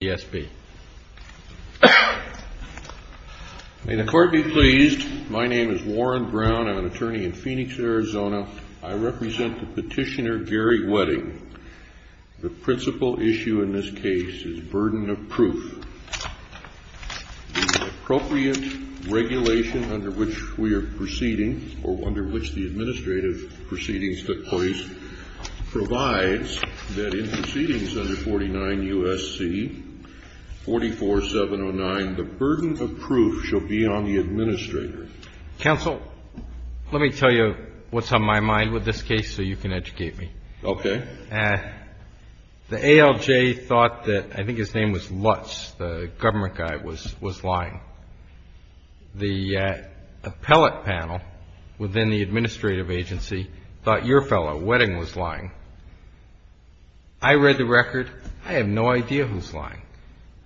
May the Court be pleased. My name is Warren Brown. I'm an attorney in Phoenix, Arizona. I represent the petitioner Gary Wedding. The principal issue in this case is burden of proof. The appropriate regulation under which we are proceeding, or under which the administrative proceedings took place, provides that in proceedings under 49 U.S.C. 44709, the burden of proof shall be on the administrator. Counsel, let me tell you what's on my mind with this case so you can educate me. Okay. The ALJ thought that, I think his name was Lutz, the government guy, was lying. The appellate panel within the administrative agency thought your fellow, Wedding, was lying. I read the record. I have no idea who's lying.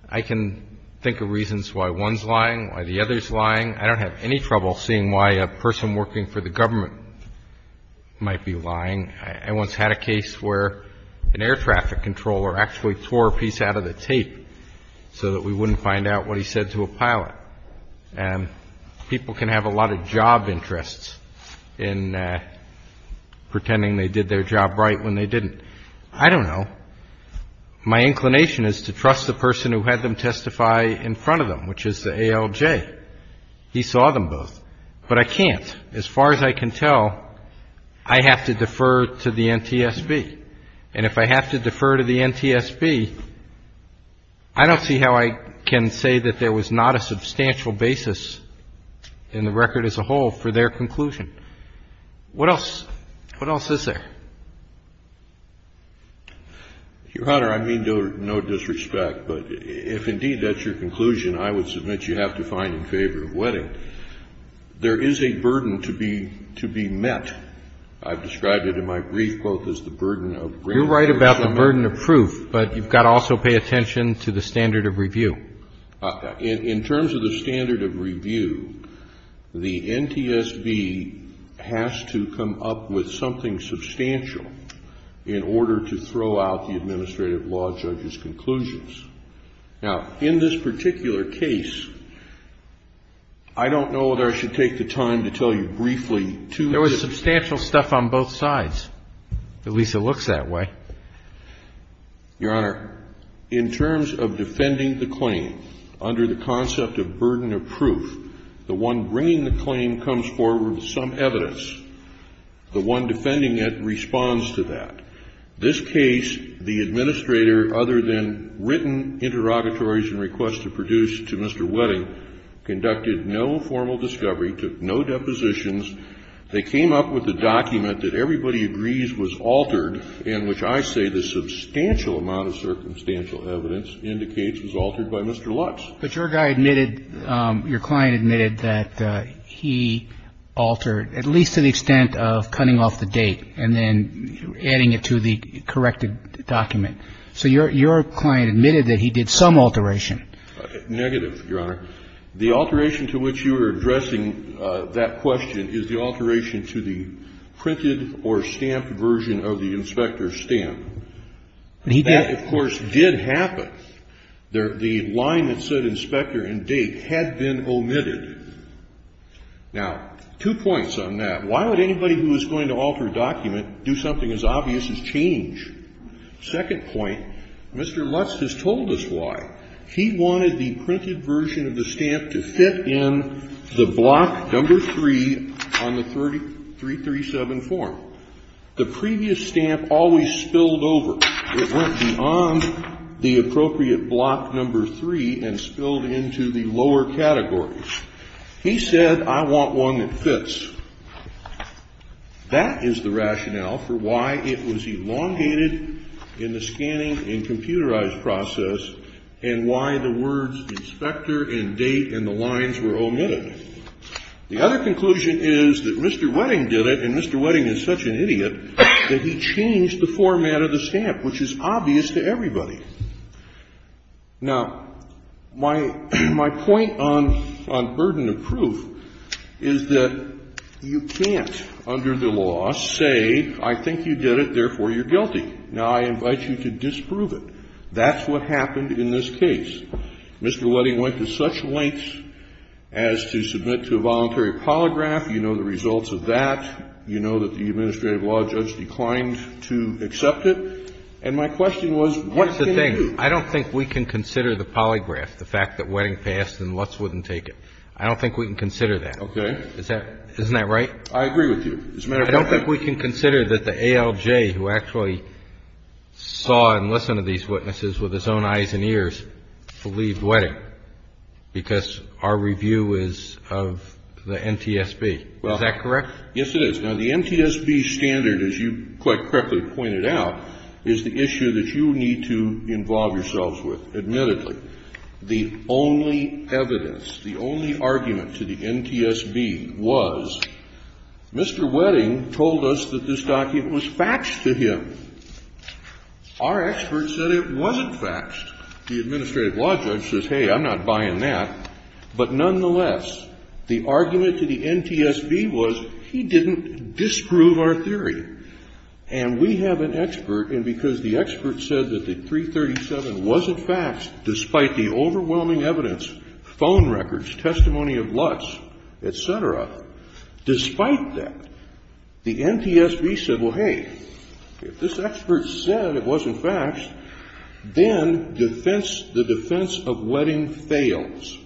I can think of reasons why one's lying, why the other's lying. I don't have any trouble seeing why a person working for the government might be lying. I once had a case where an air traffic controller actually tore a piece out of the tape so that we wouldn't find out what he said to a pilot. People can have a lot of job interests in pretending they did their job right when they didn't. I don't know. My inclination is to trust the person who had them testify in front of them, which is the ALJ. He saw them both. But I can't. As far as I can tell, I have to defer to the NTSB. And if I have to defer to the NTSB, I don't see how I can say that there was not a substantial basis in the record as a whole for their conclusion. What else? What else is there? Your Honor, I mean no disrespect, but if indeed that's your conclusion, I would submit that you have to find in favor of wetting. There is a burden to be met. I've described it in my brief quote as the burden of grain. You're right about the burden of proof, but you've got to also pay attention to the standard of review. In terms of the standard of review, the NTSB has to come up with something substantial in order to throw out the administrative law judge's conclusions. Now, in this particular case, I don't know that I should take the time to tell you briefly to the staff. There was substantial stuff on both sides. At least it looks that way. Your Honor, in terms of defending the claim under the concept of burden of proof, the one bringing the claim comes forward with some evidence. The one defending it responds to that. This case, the administrator, other than written interrogatories and requests to produce to Mr. Wetting, conducted no formal discovery, took no depositions. They came up with a document that everybody agrees was altered, in which I say the substantial amount of circumstantial evidence indicates was altered by Mr. Lutz. But your guy admitted, your client admitted that he altered, at least to the extent of cutting off the date and then adding it to the corrected document. So your client admitted that he did some alteration. Negative, your Honor. The alteration to which you are addressing that question is the alteration to the printed or stamped version of the inspector's stamp. That, of course, did happen. The line that said inspector and date had been omitted. Now, two points on that. Why would anybody who was going to alter a document do something as obvious as change? Second point, Mr. Lutz has told us why. He wanted the printed version of the stamp to fit in the block number 3 on the 337 form. The previous stamp always spilled over. It went beyond the appropriate block number 3 and spilled into the lower categories. He said, I want one that fits. That is the rationale for why it was elongated in the scanning and computerized process and why the words inspector and date and the lines were omitted. The other conclusion is that Mr. Wedding did it, and Mr. Wedding is such an idiot that he changed the format of the stamp, which is obvious to everybody. Now, my point on burden of proof is that you can't, under the law, say, I think you did it, therefore, you're guilty. Now, I invite you to disprove it. That's what happened in this case. Mr. Wedding went to such lengths as to submit to a voluntary polygraph. You know the results of that. You know that the administrative law judge declined to accept it. And my question was, what can you do? I don't think we can consider the polygraph, the fact that Wedding passed and Lutz wouldn't take it. I don't think we can consider that. Okay. Isn't that right? I agree with you. As a matter of fact, I don't think we can consider that the ALG who actually saw and listened to these witnesses with his own eyes and ears believed Wedding, because our review is of the NTSB. Is that correct? Yes, it is. Now, the NTSB standard, as you quite correctly pointed out, is the issue that you need to involve yourselves with, admittedly. The only evidence, the only argument to the NTSB was Mr. Wedding told us that this document was faxed to him. Our experts said it wasn't faxed. The administrative law judge says, hey, I'm not buying that. But nonetheless, the argument to the NTSB was he didn't disprove our theory. And we have an expert, and because the expert said that the 337 wasn't faxed, despite the overwhelming evidence, phone records, testimony of Lutz, et cetera, despite that, the NTSB said, well, hey, if this expert said it wasn't faxed, then defense, the defense of Wedding fails,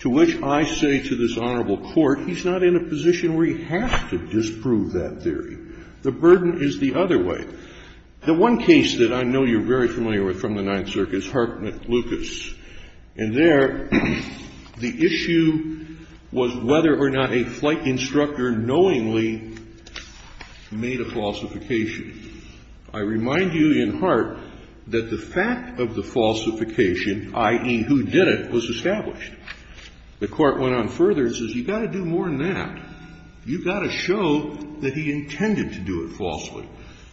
to which I say to this Honorable Court, he's not in a position where he has to disprove that theory. The burden is the other way. The one case that I know you're very familiar with from the Ninth Circuit is Hart v. Lucas. And there, the issue was whether or not a flight instructor knowingly made a falsification. I remind you in Hart that the fact of the falsification, i.e., who did it, was established. The Court went on further and says you've got to do more than that. You've got to show that he intended to do it falsely.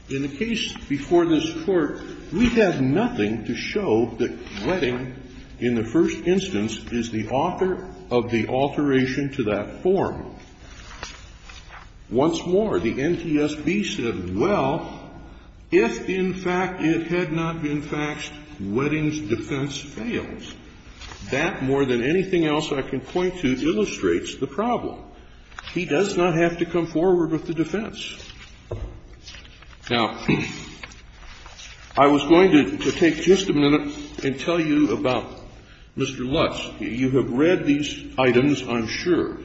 In the case before this Court, we've had nothing to show that Wedding, in the first instance, is the author of the alteration to that form. Once more, the NTSB said, well, if in fact it had not been faxed, Wedding's defense fails. That, more than anything else I can point to, illustrates the problem. He does not have to come forward with the defense. Now, I was going to take just a minute and tell you about Mr. Lutz. You have read these items, I'm sure.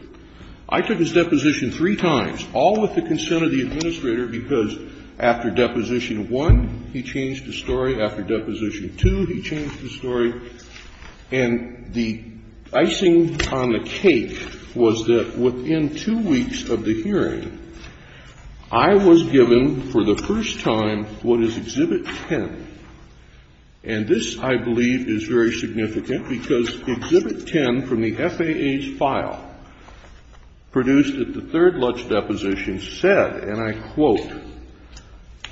I took his deposition three times, all with the consent of the administrator, because after Deposition 1, he changed the story. After Deposition 2, he changed the story. And the icing on the cake was that within two weeks of the hearing, I was given for the first time what is Exhibit 10. And this, I believe, is very significant, because Exhibit 10 from the FAA's file produced at the third Lutz deposition said, and I quote,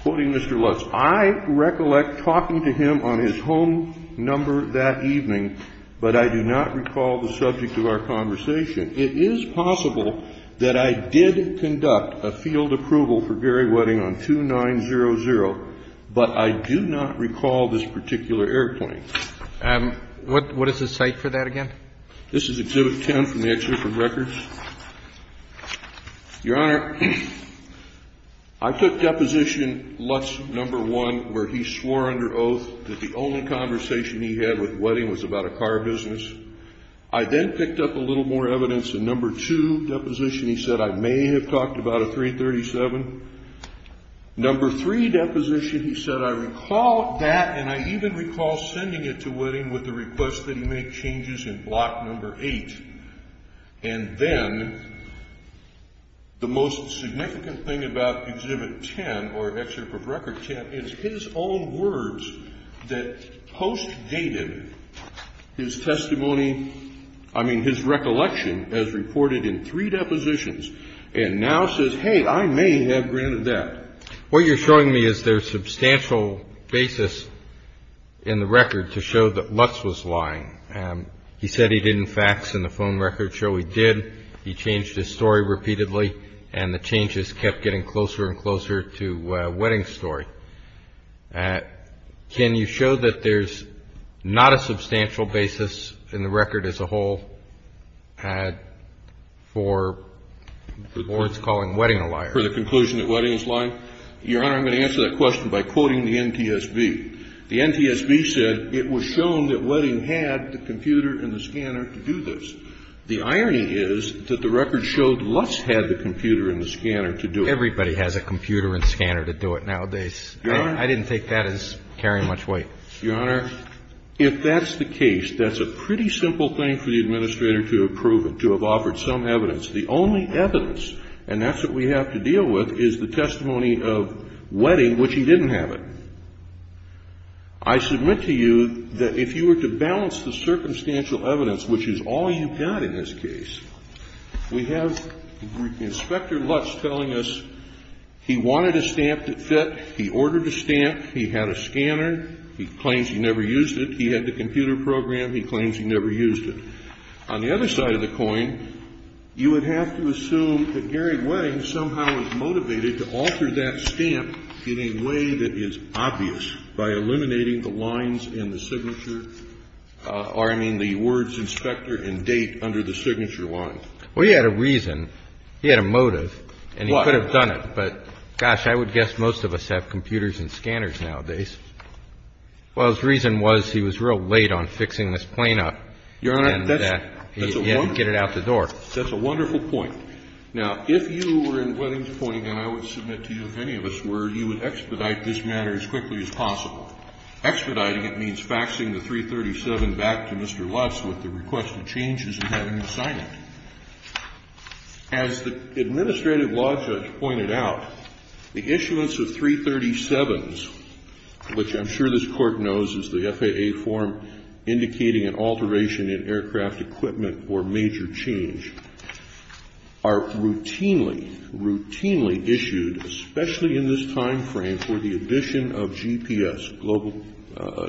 quoting Mr. Lutz, I recollect talking to him on his home number that evening, but I do not recall the subject of our conversation. It is possible that I did conduct a field approval for Gary Wedding on 2900, but I do not recall this particular airplane. What is the cite for that again? This is Exhibit 10 from the Exhibit for Records. Your Honor, I took Deposition Lutz No. 1, where he swore under oath that the only conversation he had with Wedding was about a car business. I then picked up a little more evidence in No. 2 deposition, he said, I may have talked about a 337. No. 3 deposition, he said, I recall that, and I even recall sending it to Wedding with the request that he make changes in Block No. 8. And then the most significant thing about Exhibit 10, or Exhibit for Records 10, is his own words that post-dated his testimony, I mean, his recollection, as reported in three depositions, and now says, hey, I may have granted that. What you're showing me is there's substantial basis in the record to show that Lutz was lying. He said he didn't fax in the phone record show he did. He changed his story repeatedly, and the changes kept getting closer and closer to Wedding's story. Can you show that there's not a substantial basis in the record as a whole for what's calling Wedding a liar? For the conclusion that Wedding is lying? Your Honor, I'm going to answer that question by quoting the NTSB. The NTSB said it was shown that Wedding had the computer and the scanner to do this. The irony is that the record showed Lutz had the computer and the scanner to do it. Everybody has a computer and scanner to do it nowadays. Your Honor. I didn't take that as carrying much weight. Your Honor, if that's the case, that's a pretty simple thing for the administrator to approve it, to have offered some evidence. The only evidence, and that's what we have to deal with, is the testimony of Wedding, which he didn't have it. I submit to you that if you were to balance the circumstantial evidence, which is all you've got in this case, we have Inspector Lutz telling us he wanted a stamp that fit. He ordered a stamp. He had a scanner. He claims he never used it. He had the computer program. He claims he never used it. On the other side of the coin, you would have to assume that Gary Wedding somehow was motivated to alter that stamp in a way that is obvious by eliminating the lines in the signature or, I mean, the words inspector and date under the signature line. Well, he had a reason. He had a motive, and he could have done it. But, gosh, I would guess most of us have computers and scanners nowadays. Well, his reason was he was real late on fixing this plane up. Your Honor, that's a wonderful point. He had to get it out the door. Now, if you were in Wedding's appointing, and I would submit to you if any of us were, you would expedite this matter as quickly as possible. Expediting it means faxing the 337 back to Mr. Lutz with the request to change his intended assignment. As the administrative law judge pointed out, the issuance of 337s, which I'm sure this equipment or major change, are routinely, routinely issued, especially in this time frame, for the addition of GPS, global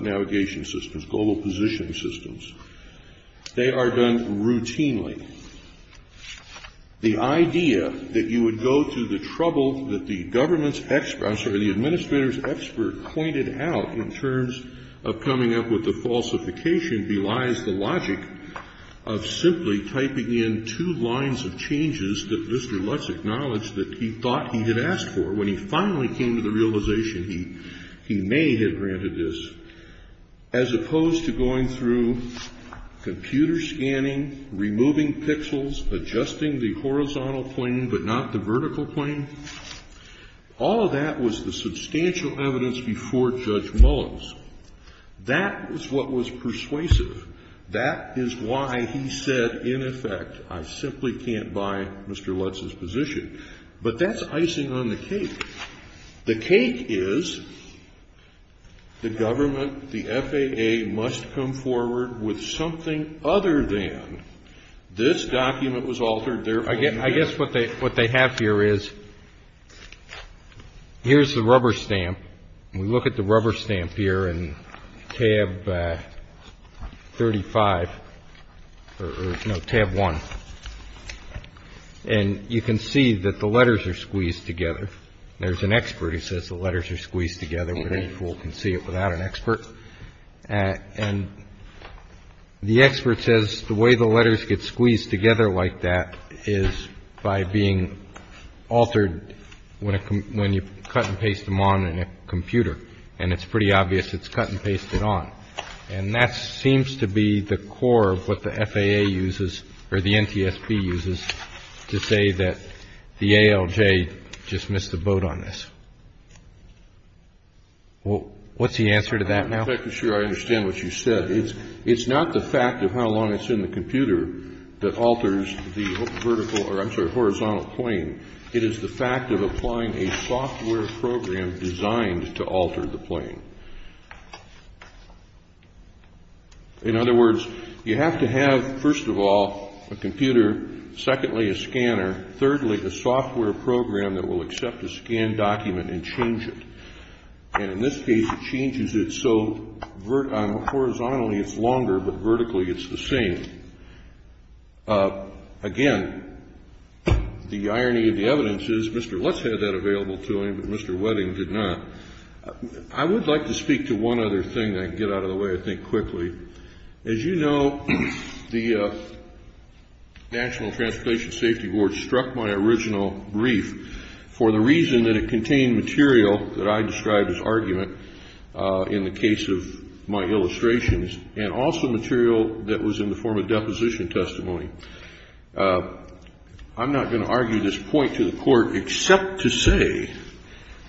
navigation systems, global positioning systems. They are done routinely. The idea that you would go to the trouble that the government's expert, I'm sorry, the administrator's expert pointed out in terms of coming up with the falsification belies the logic of simply typing in two lines of changes that Mr. Lutz acknowledged that he thought he had asked for when he finally came to the realization he may have granted this, as opposed to going through computer scanning, removing pixels, adjusting the horizontal plane but not the vertical plane. All of that was the substantial evidence before Judge Mullins. That was what was persuasive. That is why he said, in effect, I simply can't buy Mr. Lutz's position. But that's icing on the cake. The cake is the government, the FAA, must come forward with something other than this document was altered, therefore I'm here. I guess what they have here is, here's the rubber stamp. We look at the rubber stamp here in tab 35, no, tab 1, and you can see that the letters are squeezed together. There's an expert who says the letters are squeezed together, but any fool can see it without an expert. And the expert says the way the letters get squeezed together like that is by being altered when you cut and paste them on in a computer. And it's pretty obvious it's cut and pasted on. And that seems to be the core of what the FAA uses, or the NTSB uses, to say that the ALJ just missed the boat on this. Well, what's the answer to that now? In fact, I'm sure I understand what you said. It's not the fact of how long it's in the computer that alters the horizontal plane. It is the fact of applying a software program designed to alter the plane. In other words, you have to have, first of all, a computer, secondly, a scanner, thirdly, a software program that will accept a scanned document and change it. And in this case, it changes it so horizontally it's longer, but vertically it's the same. Again, the irony of the evidence is Mr. Lutz had that available to him, but Mr. Wedding did not. I would like to speak to one other thing that can get out of the way, I think, quickly. As you know, the National Transportation Safety Board struck my original brief for the reason that it contained material that I described as argument in the case of my illustrations and also material that was in the form of deposition testimony. I'm not going to argue this point to the court except to say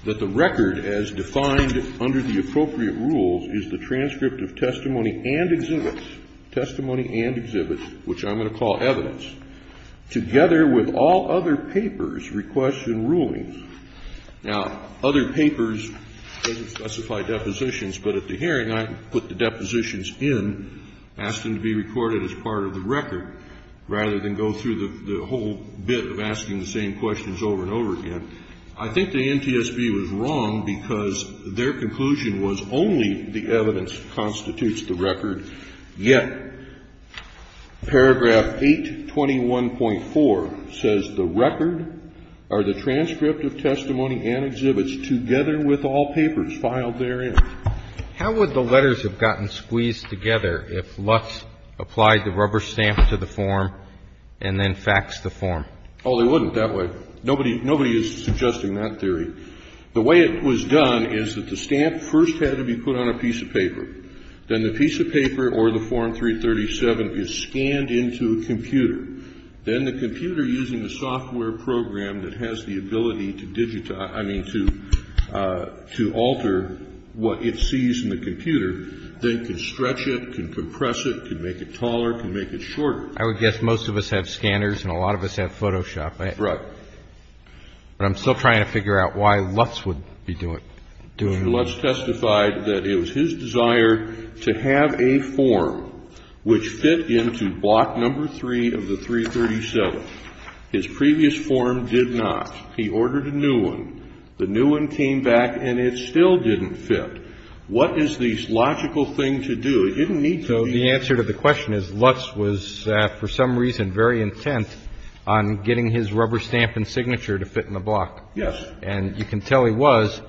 that the record as defined under the appropriate rules is the transcript of testimony and exhibits, testimony and exhibits, which I'm going to call evidence, together with all other papers, requests and rulings. Now, other papers doesn't specify depositions, but at the hearing I put the depositions in, asked them to be recorded as part of the record rather than go through the whole bit of asking the same questions over and over again. I think the NTSB was wrong because their conclusion was only the evidence constitutes the record. Yet paragraph 821.4 says the record or the transcript of testimony and exhibits together with all papers filed therein. How would the letters have gotten squeezed together if Lutz applied the rubber stamp to the form and then faxed the form? Oh, they wouldn't that way. Nobody is suggesting that theory. The way it was done is that the stamp first had to be put on a piece of paper. Then the piece of paper or the Form 337 is scanned into a computer. Then the computer, using a software program that has the ability to digitize, I mean to alter what it sees in the computer, then can stretch it, can compress it, can make it taller, can make it shorter. I would guess most of us have scanners and a lot of us have Photoshop. Right. But I'm still trying to figure out why Lutz would be doing it. Mr. Lutz testified that it was his desire to have a form which fit into block number 3 of the 337. His previous form did not. He ordered a new one. The new one came back and it still didn't fit. What is the logical thing to do? The answer to the question is Lutz was, for some reason, very intent on getting his rubber stamp and signature to fit in the block. Yes. And you can tell he was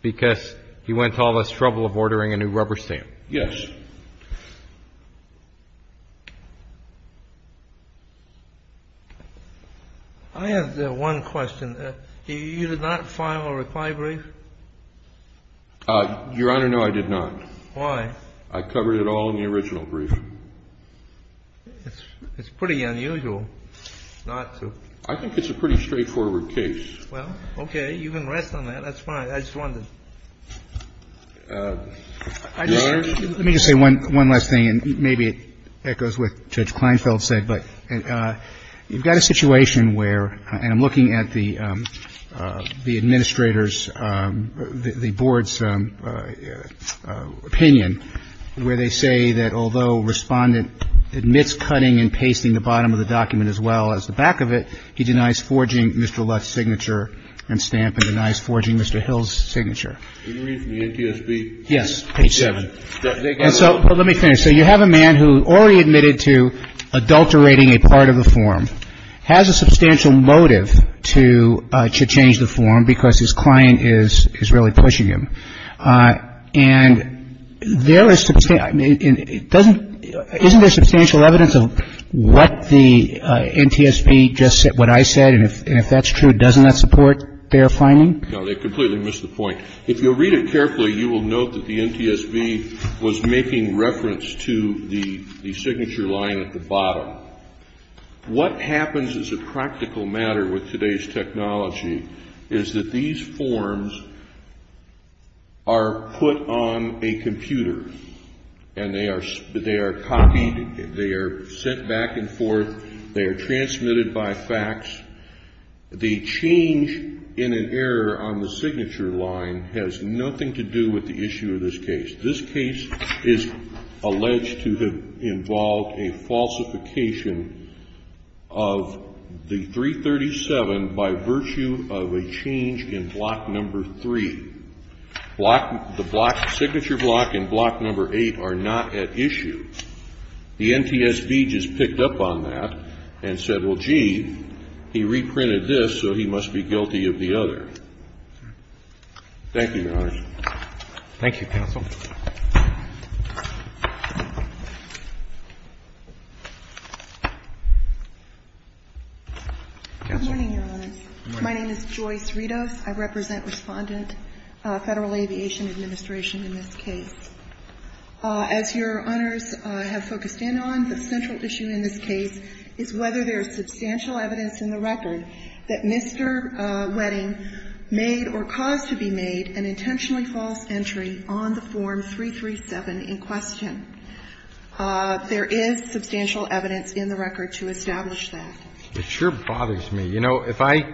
because he went to all this trouble of ordering a new rubber stamp. Yes. I have one question. You did not file a reply brief? Your Honor, no, I did not. Why? I covered it all in the original brief. It's pretty unusual not to. I think it's a pretty straightforward case. Well, OK. You can rest on that. That's fine. I just wanted. Let me just say one last thing and maybe it echoes what Judge Kleinfeld said. But you've got a situation where I'm looking at the administrators, the board's opinion where they say that although respondent admits cutting and pasting the bottom of the document as well as the back of it, he denies forging Mr. Lutz's signature and stamp and denies forging Mr. Hill's signature. Yes. Well, let me finish. So you have a man who already admitted to adulterating a part of the form, has a substantial motive to change the form because his client is really pushing him. And there is to say, I mean, it doesn't isn't there substantial evidence of what the NTSB just said, what I said? And if that's true, doesn't that support their finding? No, they completely missed the point. If you'll read it carefully, you will note that the NTSB was making reference to the signature line at the bottom. What happens as a practical matter with today's technology is that these forms are put on a computer and they are copied, they are sent back and forth, they are transmitted by fax. The change in an error on the signature line has nothing to do with the issue of this case. This case is alleged to have involved a falsification of the 337 by virtue of a change in block number 3. The block, signature block and block number 8 are not at issue. The NTSB just picked up on that and said, well, gee, he reprinted this, so he must be guilty of the other. Thank you, Your Honors. Roberts. Thank you, counsel. Good morning, Your Honors. Good morning. My name is Joyce Ritos. I represent Respondent Federal Aviation Administration in this case. As Your Honors have focused in on, the central issue in this case is whether there is substantial evidence in the record that Mr. Wedding made or caused to be made an intentionally false entry on the Form 337 in question. There is substantial evidence in the record to establish that. It sure bothers me. You know, if I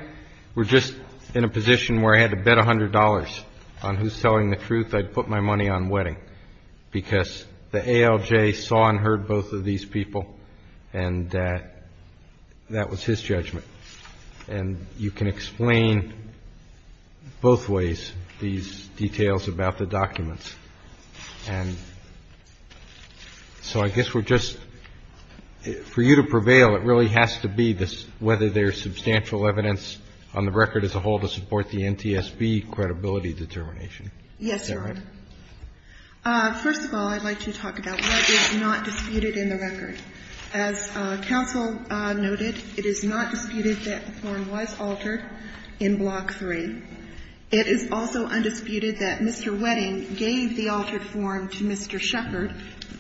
were just in a position where I had to bet $100 on who's telling the truth, I'd put my money on Wedding because the ALJ saw and heard both of these people, and that was his judgment. And you can explain both ways these details about the documents. And so I guess we're just, for you to prevail, it really has to be whether there's substantial evidence on the record as a whole to support the NTSB credibility determination. Yes, Your Honor. Is that right? First of all, I'd like to talk about what is not disputed in the record. As counsel noted, it is not disputed that the form was altered in Block 3. It is also undisputed that Mr. Wedding gave the altered form to Mr. Sheppard,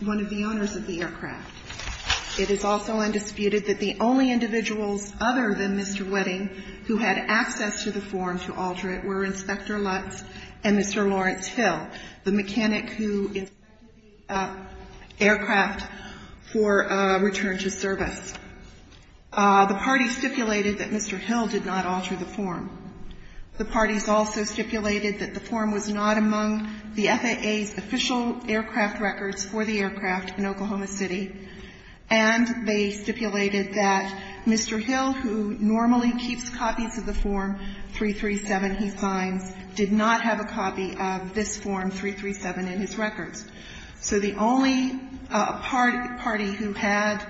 one of the owners of the aircraft. It is also undisputed that the only individuals other than Mr. Wedding who had access to the form to alter it were Inspector Lutz and Mr. Lawrence Hill, the mechanic who inspected the aircraft for return to service. The party stipulated that Mr. Hill did not alter the form. The parties also stipulated that the form was not among the FAA's official aircraft records for the aircraft in Oklahoma City. And they stipulated that Mr. Hill, who normally keeps copies of the Form 337 he signs, did not have a copy of this Form 337 in his records. So the only party who had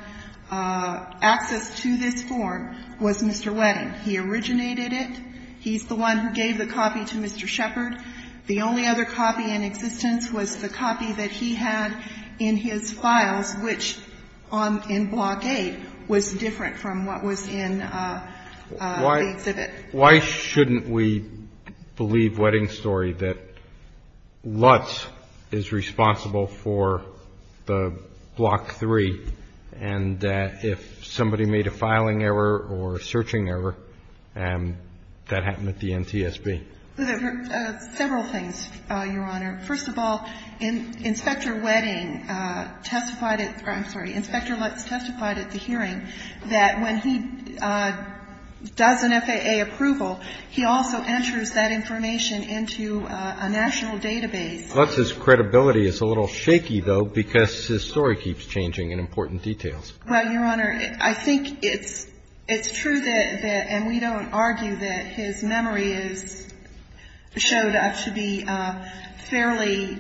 access to this form was Mr. Wedding. He originated it. He's the one who gave the copy to Mr. Sheppard. The only other copy in existence was the copy that he had in his files, which in Block 8 was different from what was in the exhibit. Why shouldn't we believe Wedding's story that Lutz is responsible for the Block 3, and that if somebody made a filing error or a searching error, that happened at the NTSB? Several things, Your Honor. First of all, Inspector Wedding testified at the hearing that when he does an FAA approval, he also enters that information into a national database. Lutz's credibility is a little shaky, though, because his story keeps changing in important details. Well, Your Honor, I think it's true that, and we don't argue that, his memory is showed to be fairly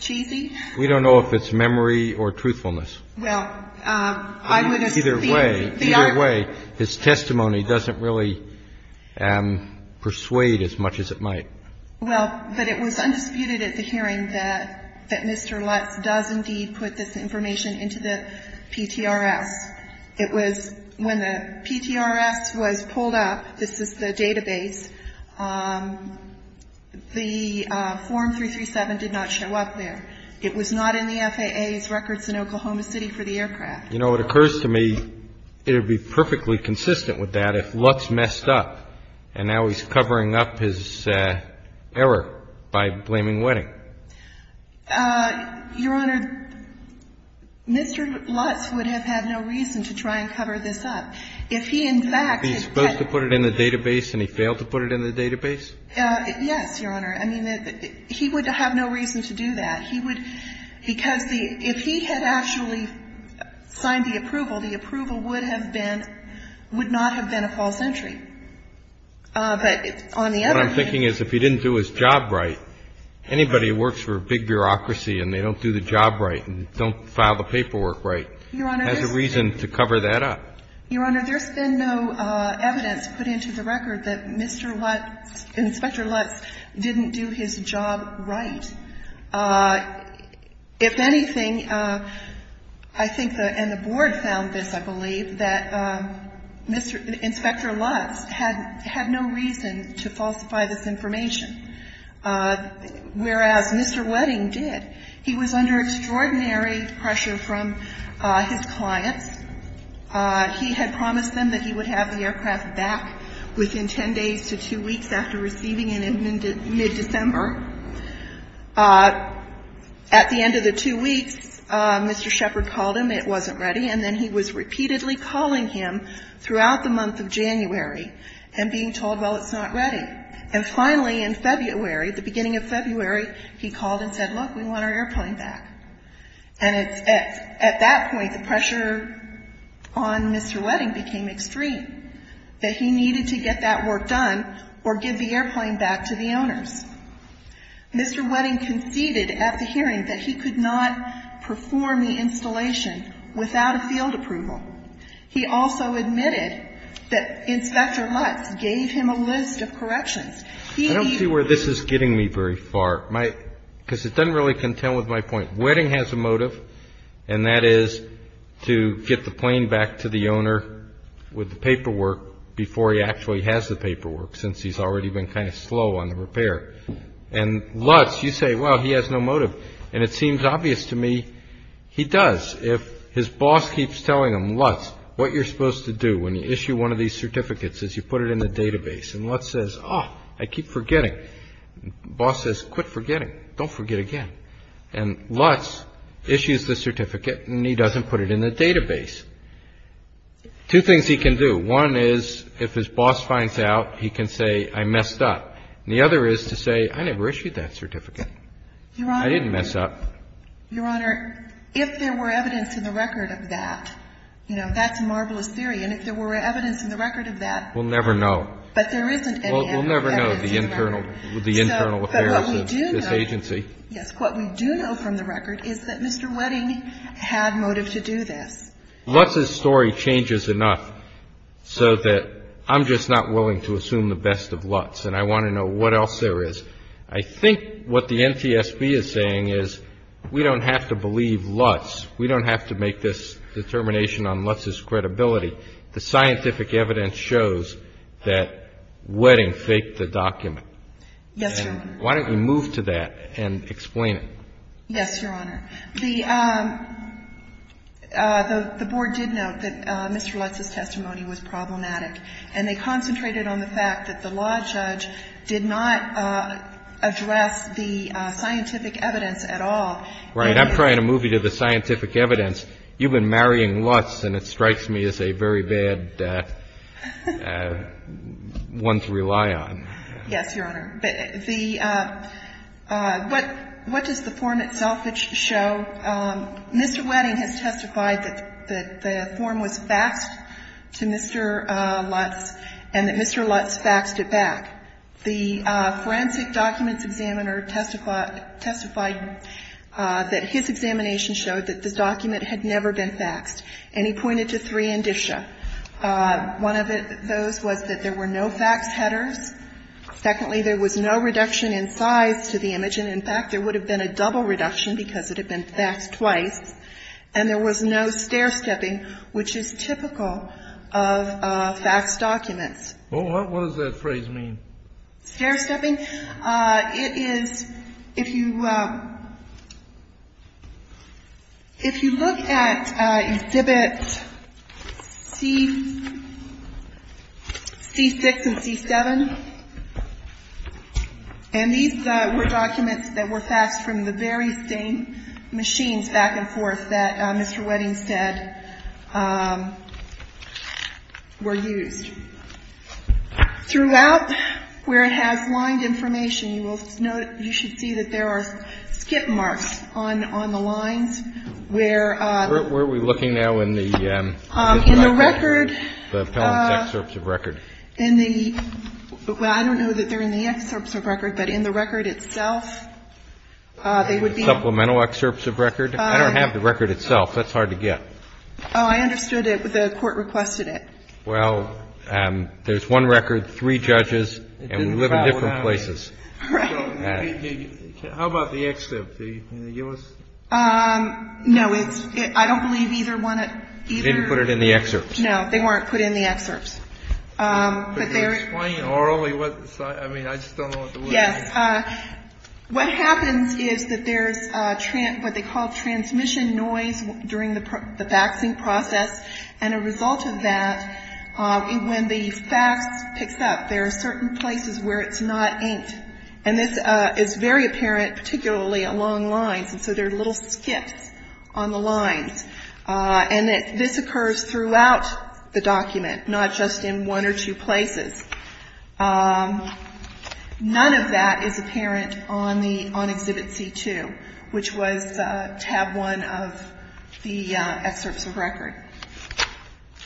cheesy. We don't know if it's memory or truthfulness. Either way, his testimony doesn't really persuade as much as it might. Well, but it was undisputed at the hearing that Mr. Lutz does indeed put this information into the PTRS. It was when the PTRS was pulled up, this is the database, the Form 337 did not show up there. It was not in the FAA's records in Oklahoma City for the aircraft. You know, it occurs to me it would be perfectly consistent with that if Lutz messed up, and now he's covering up his error by blaming Wedding. Your Honor, Mr. Lutz would have had no reason to try and cover this up. If he, in fact, had put it in the database and he failed to put it in the database? Yes, Your Honor. I mean, he would have no reason to do that. He would, because the, if he had actually signed the approval, the approval would have been, would not have been a false entry. But on the other hand. What I'm thinking is if he didn't do his job right, anybody who works for a big bureaucracy and they don't do the job right and don't file the paperwork right has a reason to cover that up. Your Honor, there's been no evidence put into the record that Mr. Lutz, Inspector Lutz didn't do his job right. If anything, I think, and the Board found this, I believe, that Mr. Inspector Lutz had no reason to falsify this information. Whereas Mr. Wedding did. He was under extraordinary pressure from his clients. He had promised them that he would have the aircraft back within ten days to two weeks after receiving it in mid-December. At the end of the two weeks, Mr. Shepard called him. It wasn't ready. And then he was repeatedly calling him throughout the month of January and being told, well, it's not ready. And finally, in February, the beginning of February, he called and said, look, we want our airplane back. And at that point, the pressure on Mr. Wedding became extreme, that he needed to get that work done or give the airplane back to the owners. Mr. Wedding conceded at the hearing that he could not perform the installation without a field approval. He also admitted that Inspector Lutz gave him a list of corrections. I don't see where this is getting me very far, because it doesn't really contend with my point. Wedding has a motive, and that is to get the plane back to the owner with the paperwork before he actually has the paperwork. Since he's already been kind of slow on the repair. And Lutz, you say, well, he has no motive. And it seems obvious to me he does. If his boss keeps telling him, Lutz, what you're supposed to do when you issue one of these certificates is you put it in the database. And Lutz says, oh, I keep forgetting. Boss says, quit forgetting. Don't forget again. And Lutz issues the certificate, and he doesn't put it in the database. Two things he can do. One is, if his boss finds out, he can say, I messed up. And the other is to say, I never issued that certificate. I didn't mess up. Your Honor, if there were evidence in the record of that, you know, that's marvelous theory. And if there were evidence in the record of that. We'll never know. But there isn't any evidence in the record. We'll never know the internal affairs of this agency. Yes. But what we do know from the record is that Mr. Wedding had motive to do this. Lutz's story changes enough so that I'm just not willing to assume the best of Lutz. And I want to know what else there is. I think what the NTSB is saying is we don't have to believe Lutz. We don't have to make this determination on Lutz's credibility. The scientific evidence shows that Wedding faked the document. Yes, Your Honor. Why don't we move to that and explain it. Yes, Your Honor. The Board did note that Mr. Lutz's testimony was problematic, and they concentrated on the fact that the law judge did not address the scientific evidence at all. Right. I'm trying to move you to the scientific evidence. You've been marrying Lutz, and it strikes me as a very bad one to rely on. Yes, Your Honor. But the what does the form itself show? Mr. Wedding has testified that the form was faxed to Mr. Lutz and that Mr. Lutz faxed it back. The forensic documents examiner testified that his examination showed that the document had never been faxed. And he pointed to three indicia. One of those was that there were no fax headers. Secondly, there was no reduction in size to the image. And, in fact, there would have been a double reduction because it had been faxed twice. And there was no stair-stepping, which is typical of faxed documents. Well, what does that phrase mean? Stair-stepping? It is if you look at exhibits C6 and C7, and these were documents that were faxed from the very same machines back and forth that Mr. Wedding said were used. Throughout, where it has lined information, you will note, you should see that there are skip marks on the lines where Where are we looking now in the record? The appellant's excerpts of record. In the, well, I don't know that they're in the excerpts of record, but in the record itself, they would be Supplemental excerpts of record? I don't have the record itself. That's hard to get. Oh, I understood it, but the Court requested it. Well, there's one record, three judges, and we live in different places. Right. How about the excerpt? Do you want to give us? No, it's, I don't believe either one of, either. They didn't put it in the excerpts. No, they weren't put in the excerpts. Could you explain orally what, I mean, I just don't know what the word is. Yes. What happens is that there's what they call transmission noise during the faxing process, and a result of that, when the fax picks up, there are certain places where it's not inked. And this is very apparent, particularly along lines, and so there are little skips on the lines. And this occurs throughout the document, not just in one or two places. None of that is apparent on the, on Exhibit C-2, which was tab one of the excerpts of record.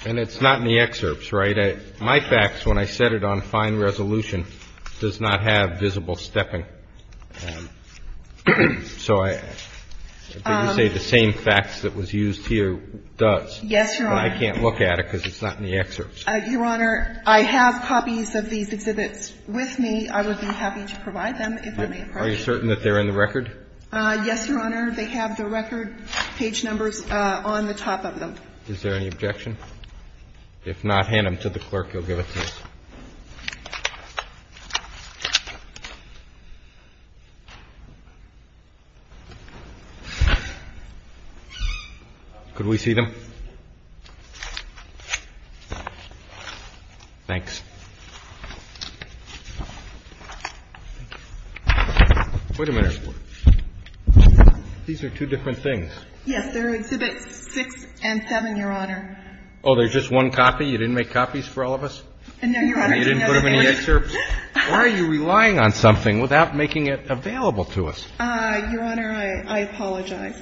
And it's not in the excerpts, right? My fax, when I set it on fine resolution, does not have visible stepping. So I, did you say the same fax that was used here does? Yes, Your Honor. But I can't look at it because it's not in the excerpts. Your Honor, I have copies of these exhibits with me. I would be happy to provide them if I may approach you. Are you certain that they're in the record? Yes, Your Honor. They have the record page numbers on the top of them. Is there any objection? If not, hand them to the clerk. He'll give it to us. Could we see them? Thanks. Wait a minute. These are two different things. Yes, they're Exhibits 6 and 7, Your Honor. Oh, there's just one copy? You didn't make copies for all of us? No, Your Honor. You didn't put them in the excerpts? Why are you relying on something without making it available to us? Your Honor, I apologize.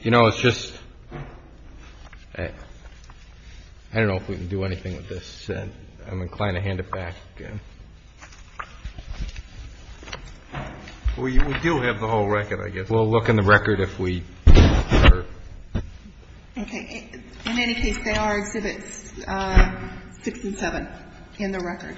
You know, it's just, I don't know if we can do anything with this. I'm inclined to hand it back. We do have the whole record, I guess. We'll look in the record if we are. Okay. In any case, they are Exhibits 6 and 7 in the record.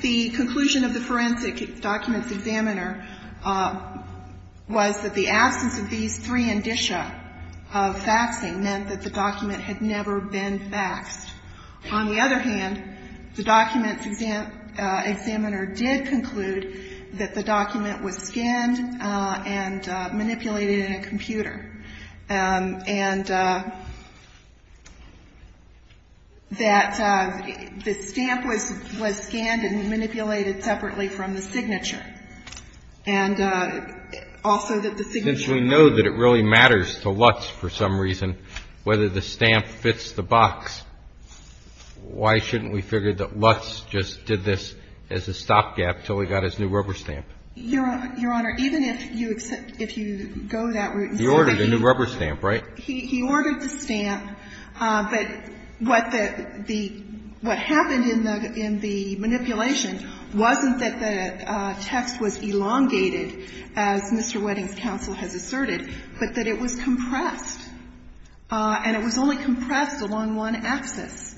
The conclusion of the forensic documents examiner was that the absence of these three indicia of faxing meant that the document had never been faxed. On the other hand, the documents examiner did conclude that the document was skinned and manipulated in a computer, and that the stamp was scanned and manipulated separately from the signature. And also that the signature. Since we know that it really matters to Lutz for some reason whether the stamp fits the box, why shouldn't we figure that Lutz just did this as a stopgap until he got his new rubber stamp? Your Honor, even if you go that route. He ordered a new rubber stamp, right? He ordered the stamp, but what happened in the manipulation wasn't that the text was elongated, as Mr. Wedding's counsel has asserted, but that it was compressed. And it was only compressed along one axis.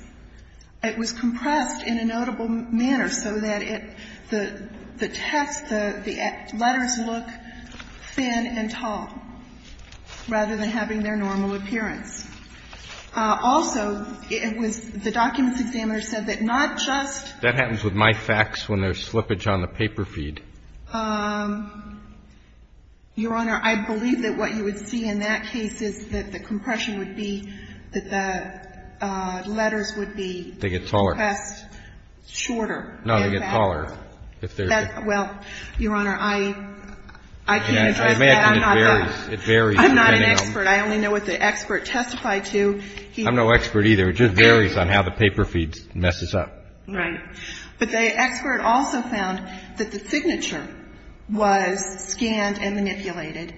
It was compressed in a notable manner so that the text, the letters look thin and tall rather than having their normal appearance. Also, it was the documents examiner said that not just. That happens with my fax when there's slippage on the paper feed. Your Honor, I believe that what you would see in that case is that the compression would be that the letters would be. They get taller. Shorter. No, they get taller. Well, Your Honor, I can't address that. I'm not an expert. I only know what the expert testified to. I'm no expert either. It just varies on how the paper feed messes up. Right. But the expert also found that the signature was scanned and manipulated.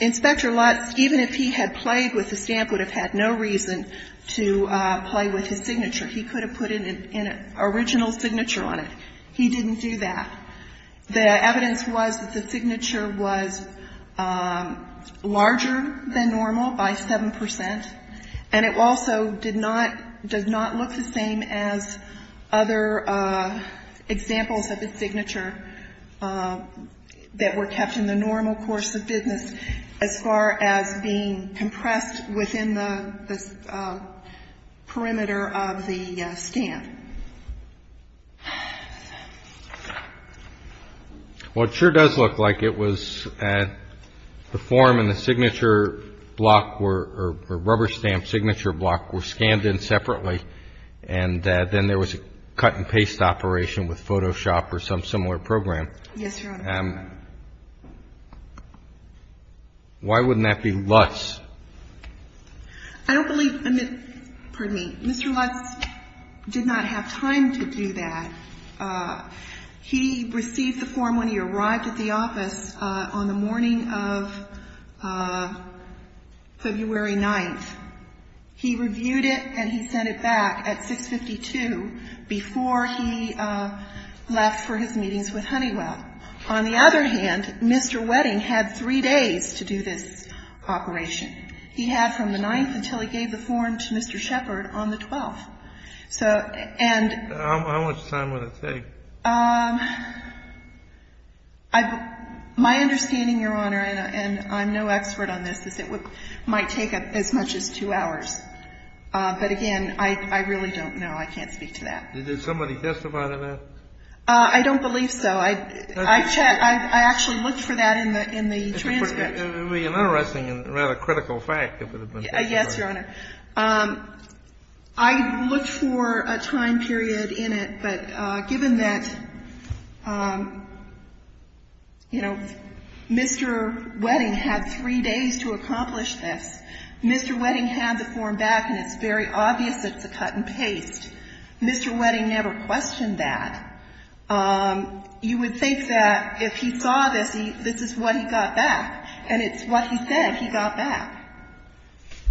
Inspector Lutz, even if he had played with the stamp, would have had no reason to play with his signature. He could have put an original signature on it. He didn't do that. The evidence was that the signature was larger than normal by 7 percent, and it also did not, does not look the same as other examples of the signature that were kept in the normal course of business as far as being compressed within the perimeter of the stamp. Well, it sure does look like it was. The form and the signature block or rubber stamp signature block were scanned in separately, and then there was a cut and paste operation with Photoshop or some similar program. Yes, Your Honor. Why wouldn't that be Lutz? I don't believe Mr. Lutz did not have time to do that. He received the form when he arrived at the office on the morning of February 9th. He reviewed it and he sent it back at 652 before he left for his meetings with Honeywell On the other hand, Mr. Wedding had three days to do this operation. He had from the 9th until he gave the form to Mr. Shepard on the 12th. How much time would it take? My understanding, Your Honor, and I'm no expert on this, is it might take as much as two hours. But, again, I really don't know. I can't speak to that. Did somebody testify to that? I don't believe so. I actually looked for that in the transcript. It would be an interesting and rather critical fact if it had been testified. Yes, Your Honor. I looked for a time period in it, but given that, you know, Mr. Wedding had three days to accomplish this, Mr. Wedding had the form back and it's very obvious it's a cut and paste. Mr. Wedding never questioned that. You would think that if he saw this, this is what he got back. And it's what he said he got back.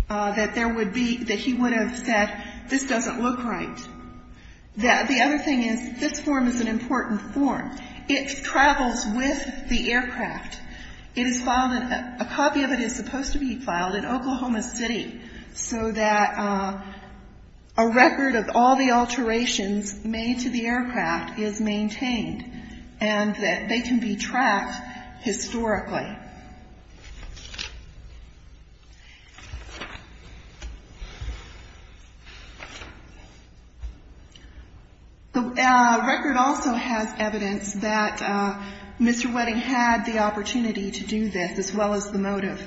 That there would be, that he would have said this doesn't look right. The other thing is this form is an important form. It travels with the aircraft. It is filed in, a copy of it is supposed to be filed in Oklahoma City so that a record of all the alterations made to the aircraft is maintained and that they can be tracked historically. The record also has evidence that Mr. Wedding had the opportunity to do this as well as the motive.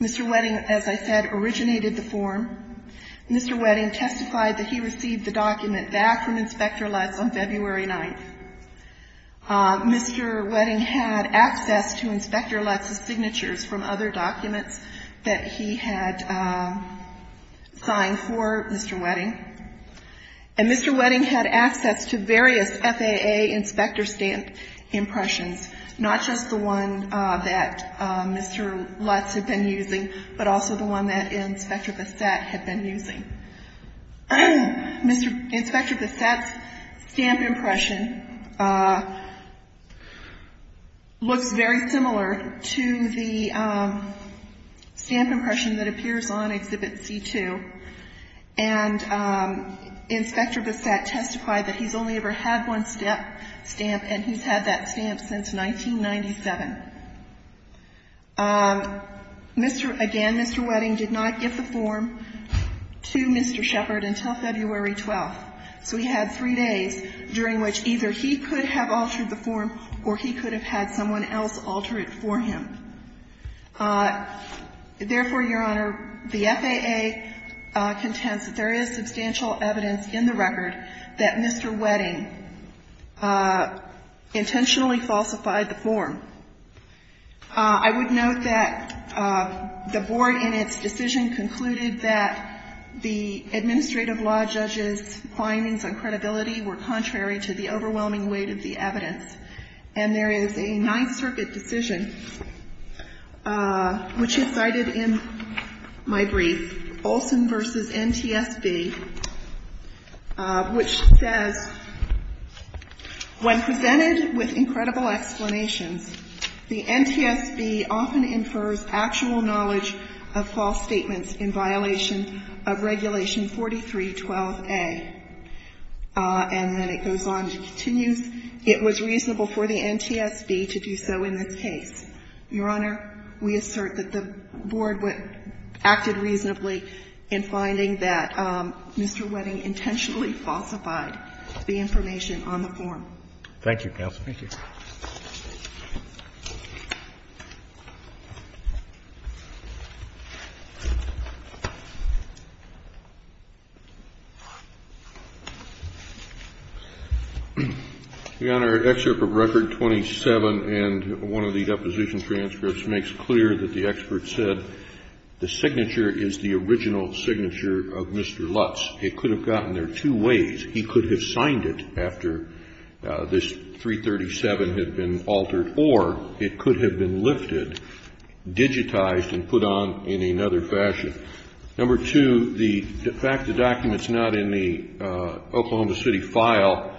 Mr. Wedding, as I said, originated the form. Mr. Wedding testified that he received the document back from Inspector Lutz on February 9th. Mr. Wedding had access to Inspector Lutz's signatures from other documents that he had signed for Mr. Wedding. And Mr. Wedding had access to various FAA inspector stamp impressions, not just the one that Mr. Lutz had been using, but also the one that Inspector Bassett had been using. Inspector Bassett's stamp impression looks very similar to the stamp impression that appears on Exhibit C2. And Inspector Bassett testified that he's only ever had one stamp, and he's had that stamp since 1997. Mr. — again, Mr. Wedding did not give the form to Mr. Shepard until February 12th. So he had three days during which either he could have altered the form or he could have had someone else alter it for him. Therefore, Your Honor, the FAA contends that there is substantial evidence in the record that Mr. Wedding intentionally falsified the form. I would note that the Board in its decision concluded that the administrative law judges' findings on credibility were contrary to the overwhelming weight of the evidence. And there is a Ninth Circuit decision which is cited in my brief, Olson v. NTSB, which says, When presented with incredible explanations, the NTSB often infers actual knowledge of false statements in violation of Regulation 4312a. And then it goes on to continue, it was reasonable for the NTSB to do so in this case. Your Honor, we assert that the Board acted reasonably in finding that Mr. Wedding intentionally falsified the information on the form. Thank you, counsel. Thank you. Your Honor, Excerpt of Record 27 and one of the deposition transcripts makes clear that the expert said, The signature is the original signature of Mr. Lutz. It could have gotten there two ways. He could have signed it after this 337 had been altered, or it could have been lifted, digitized, and put on in another fashion. Number two, the fact the document's not in the Oklahoma City file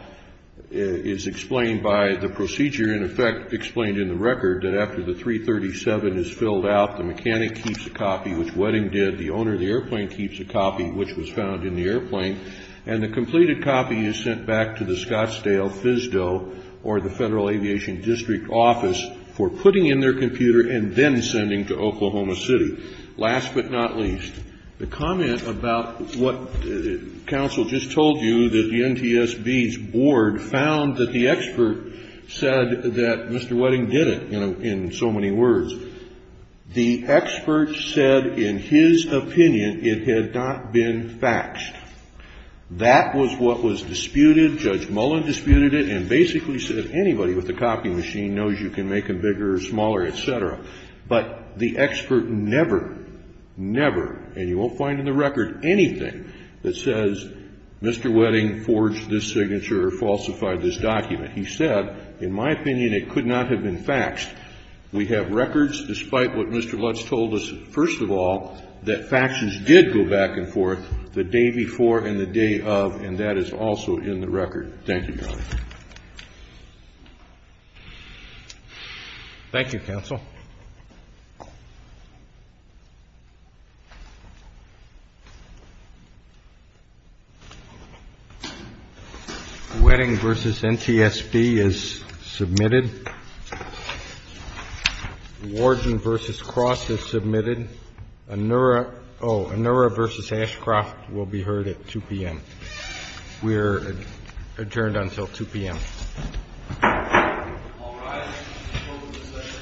is explained by the procedure, in effect, explained in the record that after the 337 is filled out, the mechanic keeps a copy, which Wedding did. The owner of the airplane keeps a copy, which was found in the airplane. And the completed copy is sent back to the Scottsdale FSDO, or the Federal Aviation District Office, for putting in their computer and then sending to Oklahoma City. Last but not least, the comment about what counsel just told you, that the NTSB's board found that the expert said that Mr. Wedding did it, in so many words, the expert said in his opinion it had not been faxed. That was what was disputed. Judge Mullen disputed it and basically said anybody with a copy machine knows you can make them bigger or smaller, et cetera. But the expert never, never, and you won't find in the record anything that says Mr. Wedding forged this signature or falsified this document. He said, in my opinion, it could not have been faxed. We have records, despite what Mr. Lutz told us, first of all, that faxes did go back and forth the day before and the day of, and that is also in the record. Thank you, Your Honor. Roberts. Thank you, counsel. Wedding v. NTSB is submitted. Warden v. Cross is submitted. Anura v. Ashcroft will be heard at 2 p.m. We're adjourned until 2 p.m. All rise. Welcome to the session. Thank you. Thank you. Thank you.